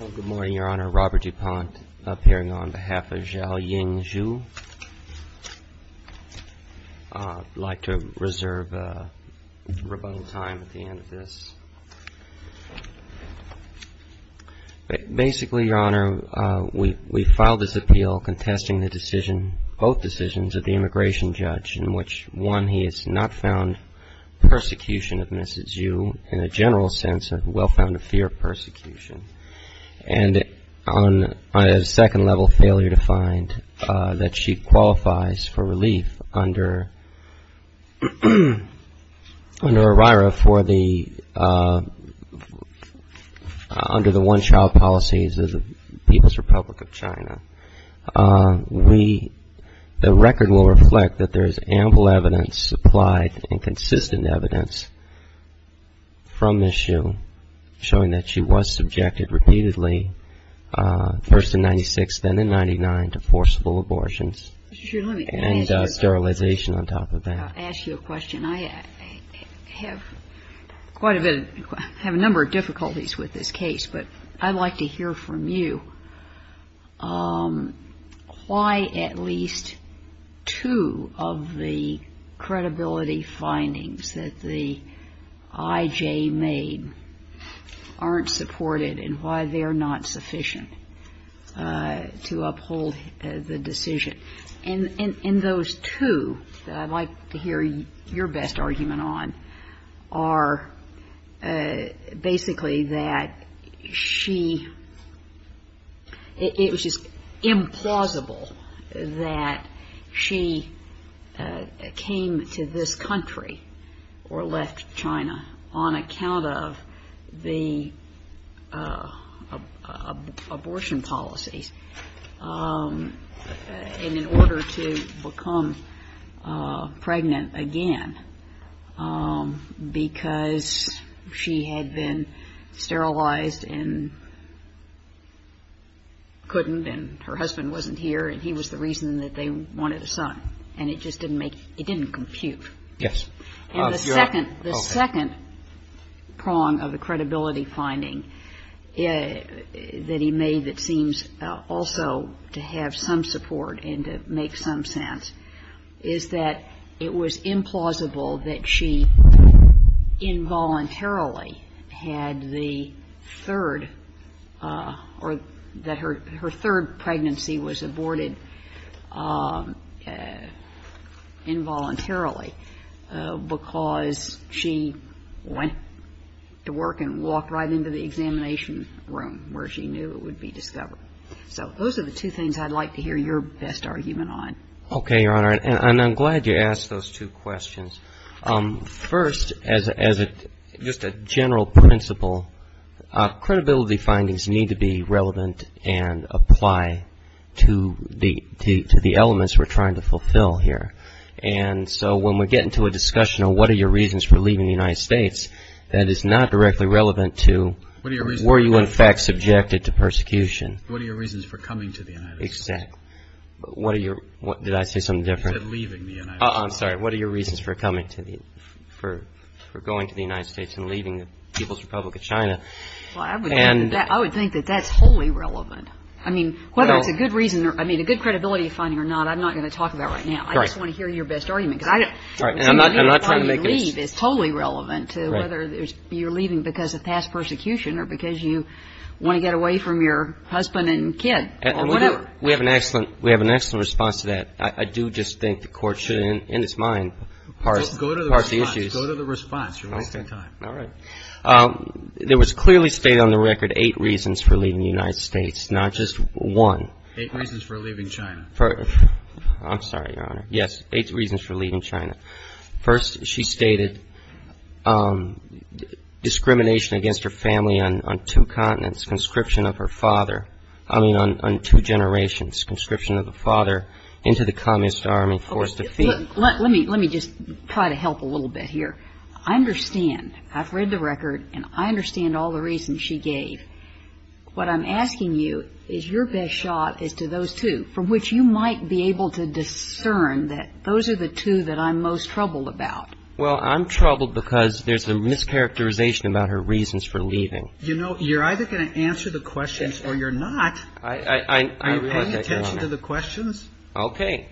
Good morning, Your Honor. Robert DuPont appearing on behalf of Zhao Ying Zhu. I'd like to reserve rebuttal time at the end of this. Basically, Your Honor, we filed this appeal contesting the decision, both decisions, of the immigration judge in which, one, he has not found persecution of Mrs. Zhu. In a general sense, well found a fear of persecution. And on a second level, failure to find that she qualifies for relief under OIRA, under the one-child policies of the People's Republic of China. We, the record will reflect that there is ample evidence, applied and consistent evidence, from Mrs. Zhu showing that she was subjected repeatedly, first in 1996, then in 1999, to forceful abortions. And sterilization on top of that. I have quite a number of difficulties with this case, but I'd like to hear from you why at least two of the credibility findings that the IJ made aren't supported and why they're not sufficient to uphold the decision. And those two that I'd like to hear your best argument on are basically that she, it was just implausible that she came to this country or left China on account of the abortion policies. And in order to become pregnant again, because she had been sterilized and couldn't and her husband wasn't here and he was the reason that they wanted a son. And it just didn't make, it didn't compute. And the second prong of the credibility finding that he made that seems also to have some support and to make some sense is that it was implausible that she involuntarily had the third, or that her third pregnancy was aborted involuntarily. Because she went to work and walked right into the examination room where she knew it would be discovered. So those are the two things I'd like to hear your best argument on. Okay, Your Honor, and I'm glad you asked those two questions. First, as just a general principle, credibility findings need to be relevant and apply to the elements we're trying to fulfill here. And so when we get into a discussion of what are your reasons for leaving the United States, that is not directly relevant to were you in fact subjected to persecution. What are your reasons for coming to the United States? Well, I would think that that's wholly relevant. I mean, a good credibility finding or not, I'm not going to talk about right now. I just want to hear your best argument. We have an excellent response to that. I do just think the Court should, in its mind, parse the issues. There was clearly stated on the record eight reasons for leaving the United States, not just one. Eight reasons for leaving China. First, she stated discrimination against her family on two continents, conscription of her father, I mean, on two generations, conscription of the father into the Communist Army forced defeat. Let me just try to help a little bit here. I understand, I've read the record, and I understand all the reasons she gave. What I'm asking you is your best shot as to those two, from which you might be able to discern that those are the two that I'm most troubled about. Well, I'm troubled because there's a mischaracterization about her reasons for leaving. You know, you're either going to answer the questions or you're not. Are you paying attention to the questions? Okay.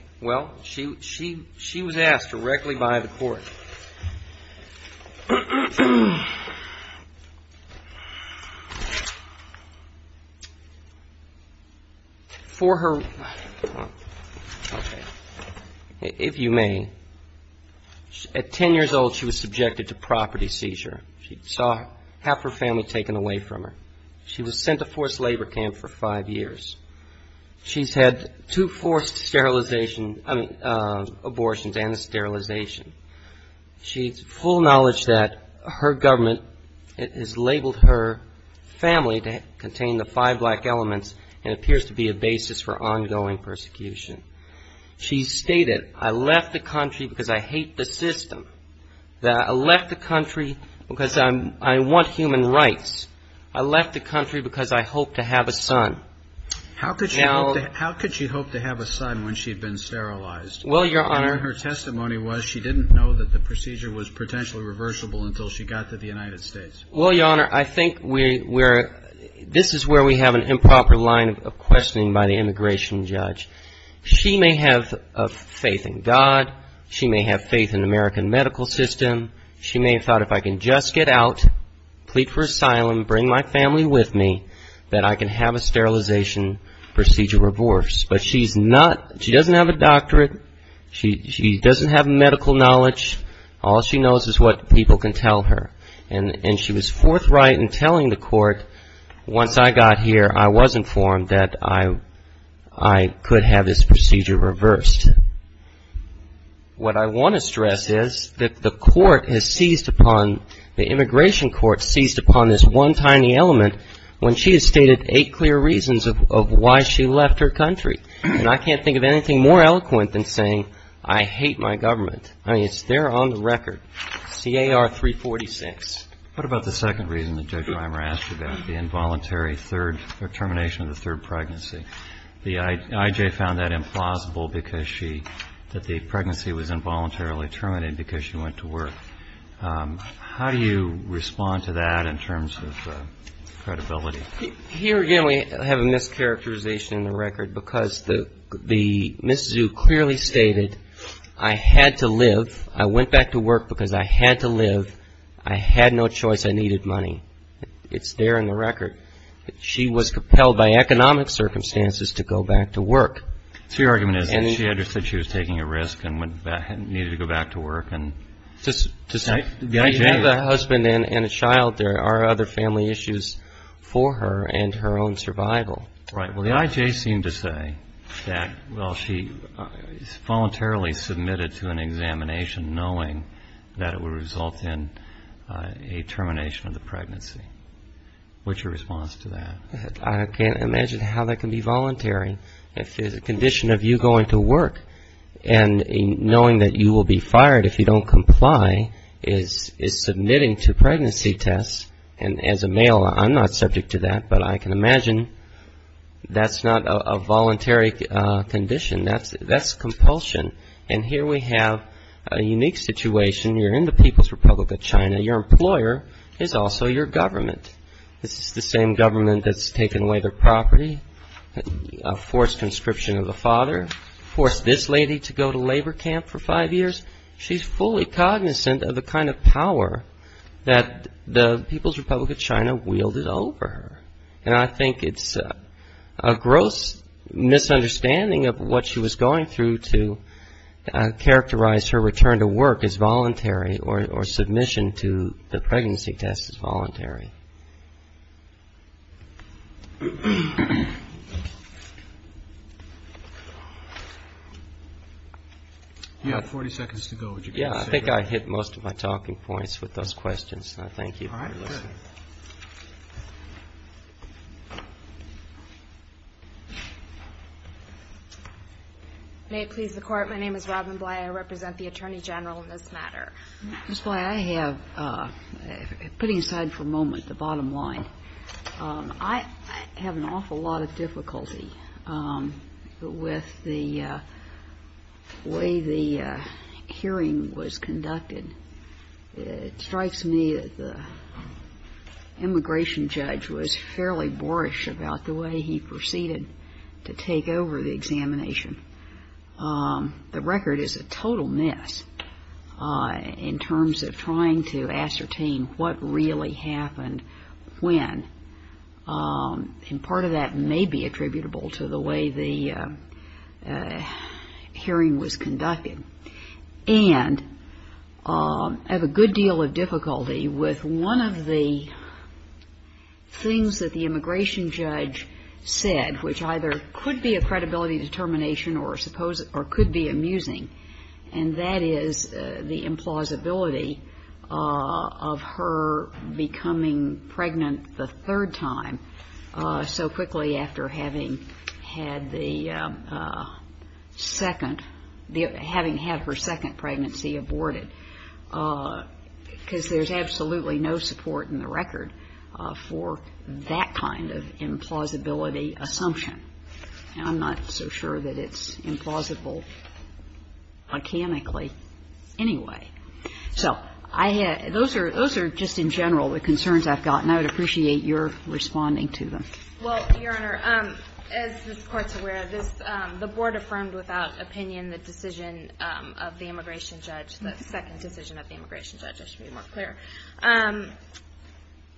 For her, if you may, at 10 years old she was subjected to property seizure. She saw half her family taken away from her. She was sent to forced labor camp for five years. She's had two forced sterilization, I mean, abortions and sterilization. She's full knowledge that her government has labeled her family to contain the five black elements and appears to be a basis for ongoing persecution. She stated, I left the country because I hate the system. I left the country because I want human rights. I left the country because I hope to have a son. How could she hope to have a son when she had been sterilized? Well, Your Honor. And her testimony was she didn't know that the procedure was potentially reversible until she got to the United States. Well, Your Honor, I think this is where we have an improper line of questioning by the immigration judge. She may have faith in God. She may have faith in the American medical system. She may have thought if I can just get out, plead for asylum, bring my family with me, that I can have a sterilization procedure reversed. But she's not, she doesn't have a doctorate. She doesn't have medical knowledge. All she knows is what people can tell her. And she was forthright in telling the court once I got here I was informed that I could have this procedure reversed. What I want to stress is that the court has seized upon, the immigration court seized upon this one tiny element when she has stated eight clear reasons of why she left her country. And I can't think of anything more eloquent than saying I hate my government. I mean, it's there on the record. C.A.R. 346. What about the second reason that Judge Reimer asked about, the involuntary third, or termination of the third pregnancy? The I.J. found that implausible because she, that the pregnancy was involuntarily terminated because she went to work. How do you respond to that in terms of credibility? Here again we have a mischaracterization in the record because the, Ms. Zhu clearly stated I had to live. I went back to work because I had to live. I had no choice. I needed money. It's there in the record. She was compelled by economic circumstances to go back to work. So your argument is that she understood she was taking a risk and needed to go back to work and the I.J. To have a husband and a child, there are other family issues for her and her own survival. Right. Well, the I.J. seemed to say that, well, she voluntarily submitted to an examination knowing that it would result in a termination of the pregnancy. What's your response to that? I can't imagine how that can be voluntary if it's a condition of you going to work and knowing that you will be fired if you don't comply is submitting to pregnancy tests. And as a male, I'm not subject to that, but I can imagine that's not a voluntary condition. That's compulsion. And here we have a unique situation. You're in the People's Republic of China. Your employer is also your government. It's the same government that's taken away their property, forced conscription of a father, forced this lady to go to labor camp for five years. She's fully cognizant of the kind of power that the People's Republic of China wielded over her. And I think it's a gross misunderstanding of what she was going through to characterize her return to work as voluntary or submission to the pregnancy test as voluntary. You have 40 seconds to go. Yeah. I think I hit most of my talking points with those questions, and I thank you for listening. All right. Go ahead. May it please the Court. My name is Robin Bly. I represent the Attorney General in this matter. Ms. Bly, I have, putting aside for a moment the bottom line, I have an awful lot of difficulty with the way the hearing was conducted. It strikes me that the immigration judge was fairly boorish about the way he proceeded to take over the examination. The record is a total mess in terms of trying to ascertain what really happened when. And part of that may be attributable to the way the hearing was conducted. And I have a good deal of difficulty with one of the things that the immigration judge said, which either could be a credibility determination or could be amusing, and that is the implausibility of her becoming pregnant the third time so quickly after having had the second, having had her second pregnancy aborted, because there's absolutely no support in the record for that kind of implausibility assumption. And I'm not so sure that it's implausible mechanically anyway. So those are just in general the concerns I've gotten. I would appreciate your responding to them. Well, Your Honor, as this Court's aware, the board affirmed without opinion the decision of the immigration judge, the second decision of the immigration judge, I should be more clear.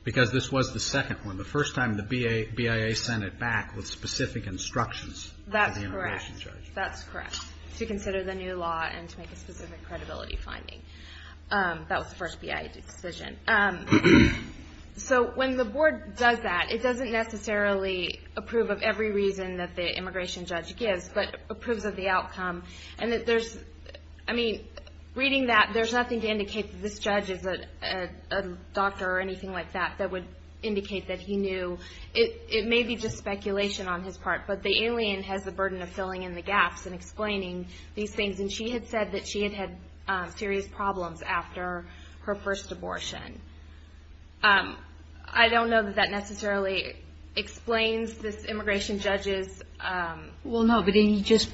Because this was the second one, the first time the BIA sent it back with specific instructions. That's correct, that's correct, to consider the new law and to make a specific credibility finding. That was the first BIA decision. So when the board does that, it doesn't necessarily approve of every reason that the immigration judge gives, but approves of the outcome. I mean, reading that, there's nothing to indicate that this judge is a doctor or anything like that that would indicate that he knew. It may be just speculation on his part, but the alien has the burden of filling in the gaps and explaining these things. And she had said that she had had serious problems after her first abortion. I don't know that that necessarily explains this immigration judge's ---- Well, no, but he just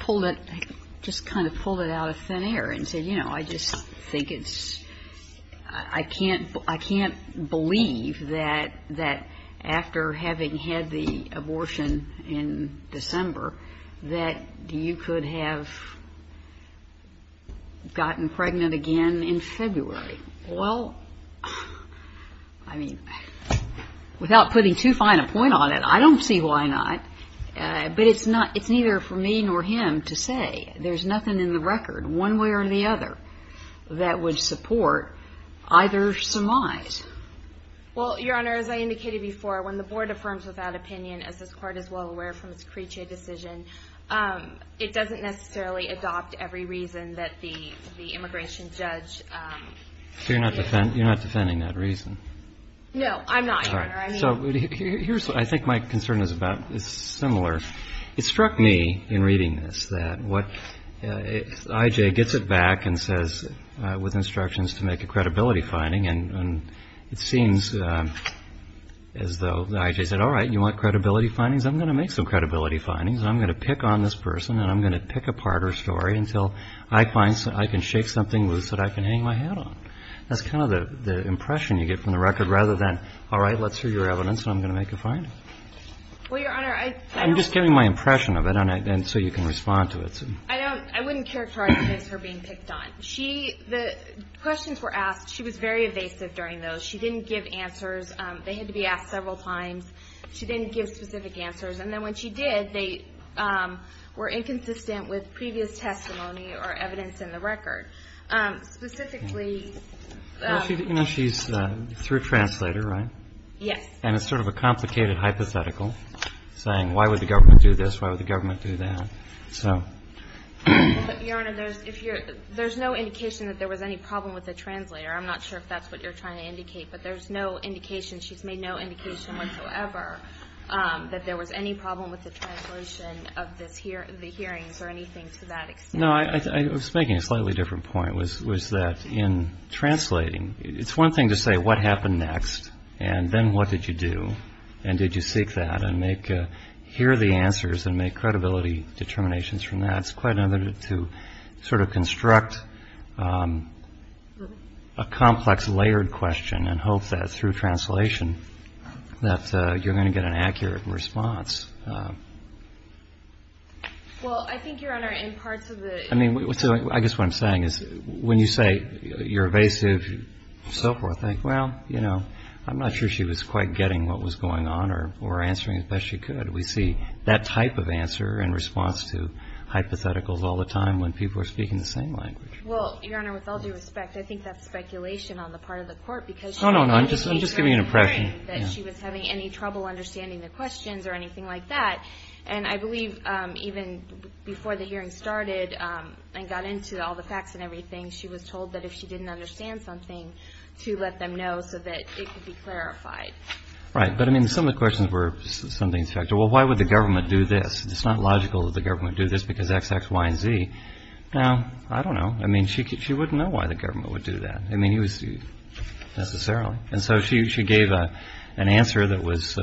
kind of pulled it out of thin air and said, you know, I just think it's ---- I can't believe that after having had the abortion in December that you could have gotten pregnant again in February. Well, I mean, without putting too fine a point on it, I don't see why not. But it's not ---- it's neither for me nor him to say. There's nothing in the record, one way or the other, that would support either surmise. Well, Your Honor, as I indicated before, when the board affirms without opinion, as this Court is well aware from its Creechia decision, it doesn't necessarily adopt every reason that the immigration judge gives. So you're not defending that reason? No, I'm not, Your Honor. So here's what I think my concern is about. It's similar. It struck me in reading this that what ---- I.J. gets it back and says with instructions to make a credibility finding, and it seems as though I.J. said, all right, you want credibility findings? I'm going to make some credibility findings, and I'm going to pick on this person, and I'm going to pick apart her story until I find ---- I can shake something loose that I can hang my hat on. That's kind of the impression you get from the record rather than, all right, let's hear your evidence, and I'm going to make a finding. Well, Your Honor, I don't ---- I'm just giving my impression of it so you can respond to it. I don't ---- I wouldn't characterize it as her being picked on. She ---- the questions were asked. She was very evasive during those. She didn't give answers. They had to be asked several times. She didn't give specific answers. And then when she did, they were inconsistent with previous testimony or evidence in the record. Specifically ---- Well, you know, she's through a translator, right? Yes. And it's sort of a complicated hypothetical, saying why would the government do this, why would the government do that. So ---- Well, but, Your Honor, there's no indication that there was any problem with the translator. I'm not sure if that's what you're trying to indicate, but there's no indication ---- she's made no indication whatsoever that there was any problem with the translation of the hearings or anything to that extent. No, I was making a slightly different point, was that in translating, it's one thing to say what happened next and then what did you do and did you seek that and make ---- hear the answers and make credibility determinations from that. It's quite another to sort of construct a complex layered question and hope that through translation that you're going to get an accurate response. Well, I think, Your Honor, in parts of the ---- I mean, I guess what I'm saying is when you say you're evasive, so forth, I think, well, you know, I'm not sure she was quite getting what was going on or answering as best she could. We see that type of answer in response to hypotheticals all the time when people are speaking the same language. Well, Your Honor, with all due respect, I think that's speculation on the part of the Court because ---- No, no, no. I'm just giving you an impression. That she was having any trouble understanding the questions or anything like that. And I believe even before the hearing started and got into all the facts and everything, she was told that if she didn't understand something, to let them know so that it could be clarified. Right. But, I mean, some of the questions were something to factor. Well, why would the government do this? It's not logical that the government do this because X, X, Y, and Z. Now, I don't know. I mean, she wouldn't know why the government would do that. I mean, it was ---- necessarily. And so she gave an answer that was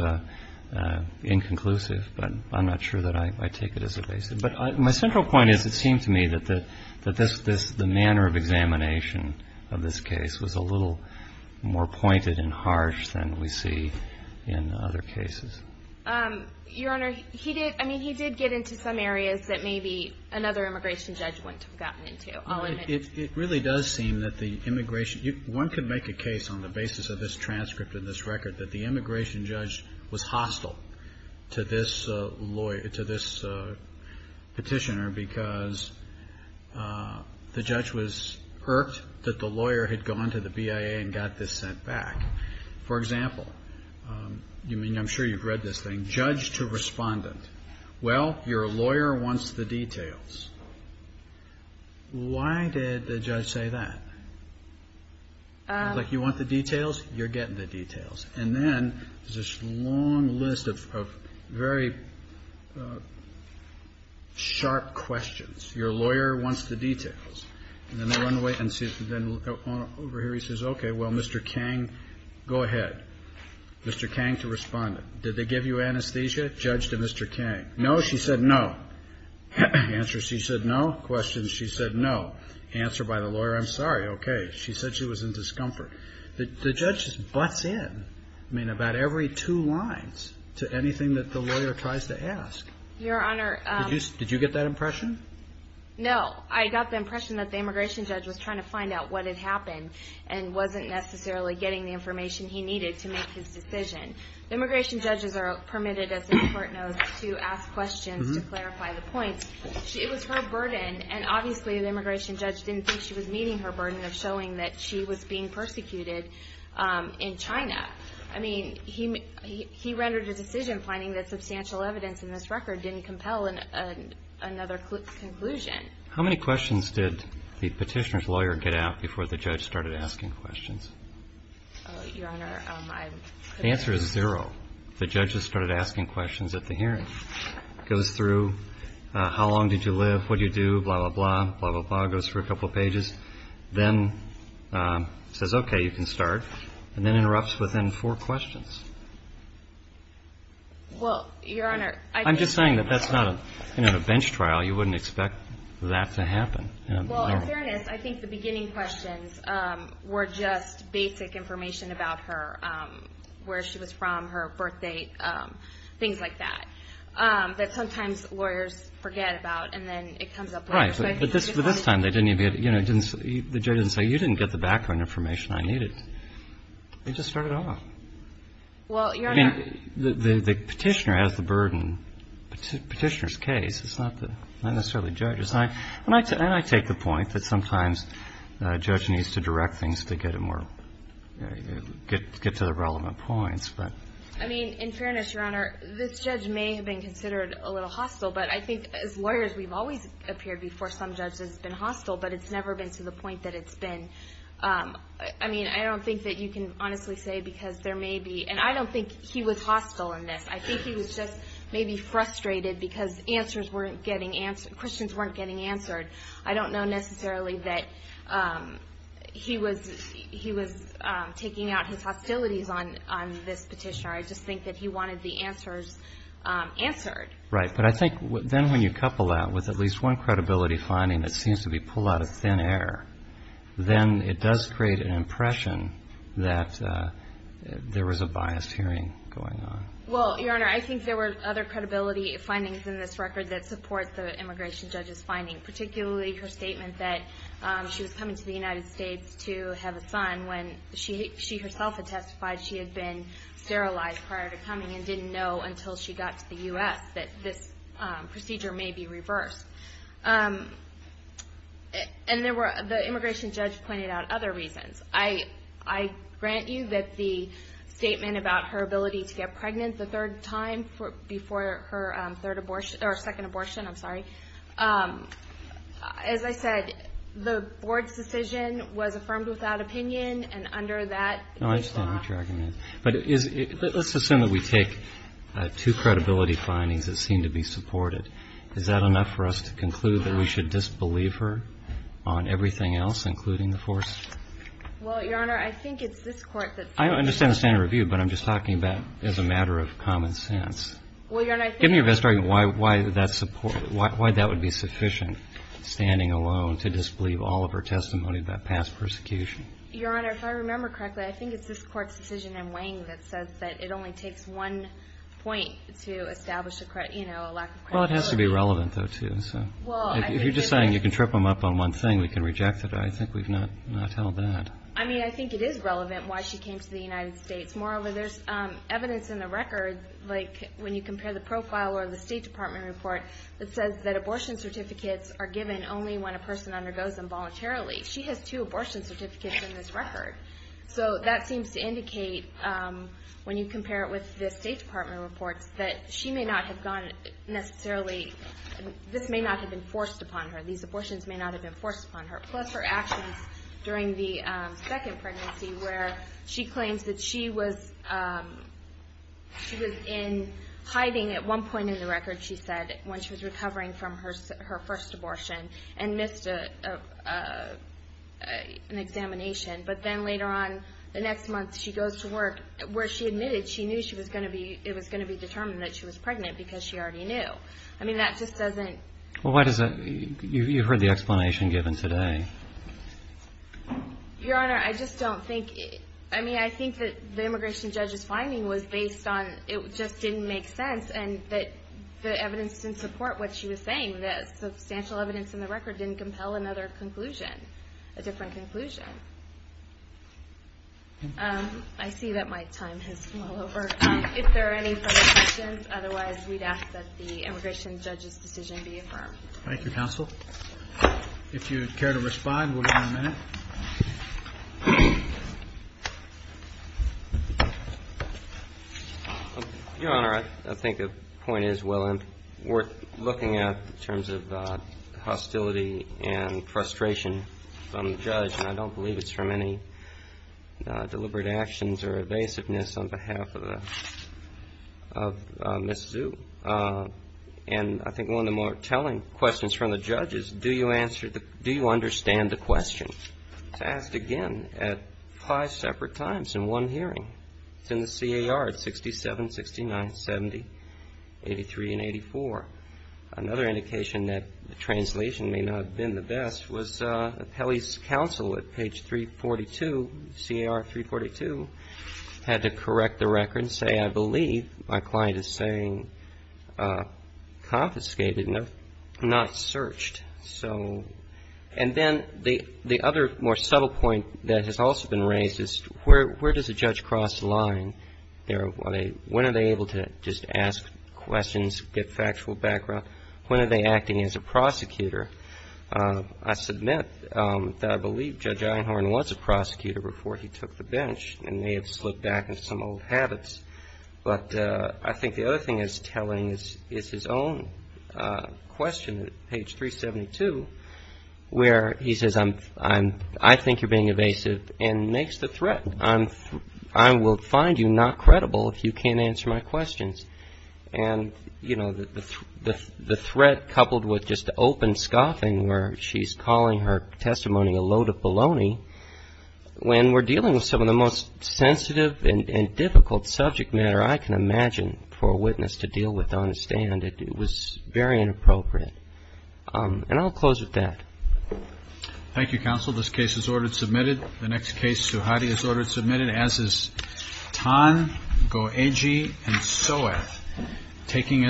inconclusive. But I'm not sure that I take it as a basis. But my central point is it seemed to me that the manner of examination of this case was a little more pointed and harsh than we see in other cases. Your Honor, he did ---- I mean, he did get into some areas that maybe another immigration judge wouldn't have gotten into. I'll admit that. It really does seem that the immigration ---- one could make a case on the basis of this transcript and this record that the immigration judge was hostile to this petitioner because the judge was irked that the lawyer had gone to the BIA and got this sent back. For example, I'm sure you've read this thing, judge to respondent, well, your lawyer wants the details. Why did the judge say that? Like, you want the details? You're getting the details. And then there's this long list of very sharp questions. Your lawyer wants the details. And then they run away and then over here he says, okay, well, Mr. Kang, go ahead. Mr. Kang to respondent, did they give you anesthesia, judge to Mr. Kang? No, she said no. Answer, she said no. Questions, she said no. Answer by the lawyer, I'm sorry, okay. She said she was in discomfort. The judge butts in, I mean, about every two lines to anything that the lawyer tries to ask. Your Honor ---- Did you get that impression? No. I got the impression that the immigration judge was trying to find out what had happened and wasn't necessarily getting the information he needed to make his decision. Immigration judges are permitted, as the court knows, to ask questions to clarify the points. It was her burden, and obviously the immigration judge didn't think she was meeting her burden of showing that she was being persecuted in China. I mean, he rendered a decision finding that substantial evidence in this record didn't compel another conclusion. How many questions did the petitioner's lawyer get out before the judge started asking questions? Your Honor, I couldn't answer that. The answer is zero. The judge has started asking questions at the hearing. Goes through, how long did you live, what did you do, blah, blah, blah, blah, blah, goes through a couple pages. Then says, okay, you can start. And then interrupts within four questions. Well, Your Honor, I think ---- I'm just saying that that's not a bench trial. You wouldn't expect that to happen. Well, in fairness, I think the beginning questions were just basic information about her, where she was from, her birth date, things like that, that sometimes lawyers forget about, and then it comes up later. Right. But this time, they didn't even get, you know, the judge didn't say, you didn't get the background information I needed. They just started off. Well, Your Honor ---- I mean, the petitioner has the burden. Petitioner's case, it's not necessarily judge's. And I take the point that sometimes a judge needs to direct things to get a more ---- get to the relevant points, but ---- I mean, in fairness, Your Honor, this judge may have been considered a little hostile, but I think as lawyers, we've always appeared before some judge has been hostile, but it's never been to the point that it's been. I mean, I don't think that you can honestly say because there may be ---- and I don't think he was hostile in this. I think he was just maybe frustrated because answers weren't getting ---- questions weren't getting answered. I don't know necessarily that he was taking out his hostilities on this petitioner. I just think that he wanted the answers answered. Right. But I think then when you couple that with at least one credibility finding that seems to be a pull out of thin air, then it does create an impression that there was a biased hearing going on. Well, Your Honor, I think there were other credibility findings in this record that support the immigration judge's finding, particularly her statement that she was coming to the United States to have a son when she herself had testified she had been sterilized prior to coming and didn't know until she got to the U.S. that this procedure may be reversed. And there were ---- the immigration judge pointed out other reasons. I grant you that the statement about her ability to get pregnant the third time before her third abortion or second abortion, I'm sorry. As I said, the board's decision was affirmed without opinion, and under that ---- No, I understand what your argument is. But let's assume that we take two credibility findings that seem to be supported. Is that enough for us to conclude that we should disbelieve her on everything else, including the fourth? I understand the standard of review, but I'm just talking about as a matter of common sense. Well, Your Honor, I think ---- Give me your best argument why that would be sufficient, standing alone to disbelieve all of her testimony about past persecution. Your Honor, if I remember correctly, I think it's this Court's decision in Wang that says that it only takes one point to establish a lack of credibility. Well, it has to be relevant, though, too. So if you're just saying you can trip them up on one thing, we can reject it. I think we've not held that. I mean, I think it is relevant why she came to the United States. Moreover, there's evidence in the record, like when you compare the profile or the State Department report, that says that abortion certificates are given only when a person undergoes them voluntarily. She has two abortion certificates in this record. So that seems to indicate, when you compare it with the State Department reports, that she may not have gone necessarily ---- this may not have been forced upon her. These abortions may not have been forced upon her. Plus her actions during the second pregnancy where she claims that she was in hiding at one point in the record, she said, when she was recovering from her first abortion and missed an examination. But then later on, the next month, she goes to work where she admitted she knew it was going to be determined that she was pregnant because she already knew. I mean, that just doesn't ---- You've heard the explanation given today. Your Honor, I just don't think ---- I mean, I think that the immigration judge's finding was based on it just didn't make sense and that the evidence didn't support what she was saying, that substantial evidence in the record didn't compel another conclusion, a different conclusion. I see that my time has come all over. If there are any further questions, otherwise we'd ask that the immigration judge's Thank you, Counsel. If you care to respond, we'll give you a minute. Your Honor, I think the point is well worth looking at in terms of hostility and frustration from the judge, and I don't believe it's from any deliberate actions or evasiveness on behalf of Ms. Zhu. And I think one of the more telling questions from the judge is do you understand the question? It's asked again at five separate times in one hearing. It's in the CAR at 67, 69, 70, 83, and 84. Another indication that the translation may not have been the best was Pelle's counsel at page 342, CAR 342, had to correct the record and say, I believe my client is saying confiscated, not searched. So and then the other more subtle point that has also been raised is where does a judge cross the line? When are they able to just ask questions, get factual background? When are they acting as a prosecutor? I submit that I believe Judge Einhorn was a prosecutor before he took the bench, and may have slipped back into some old habits. But I think the other thing that's telling is his own question at page 372, where he says, I think you're being evasive, and makes the threat. I will find you not credible if you can't answer my questions. And, you know, the threat coupled with just the open scoffing where she's calling her and difficult subject matter I can imagine for a witness to deal with on a stand. It was very inappropriate. And I'll close with that. Thank you, counsel. This case is order submitted. The next case, Suhadi, is order submitted, as is Tan, Goeji, and Soeth, taking us to the next case.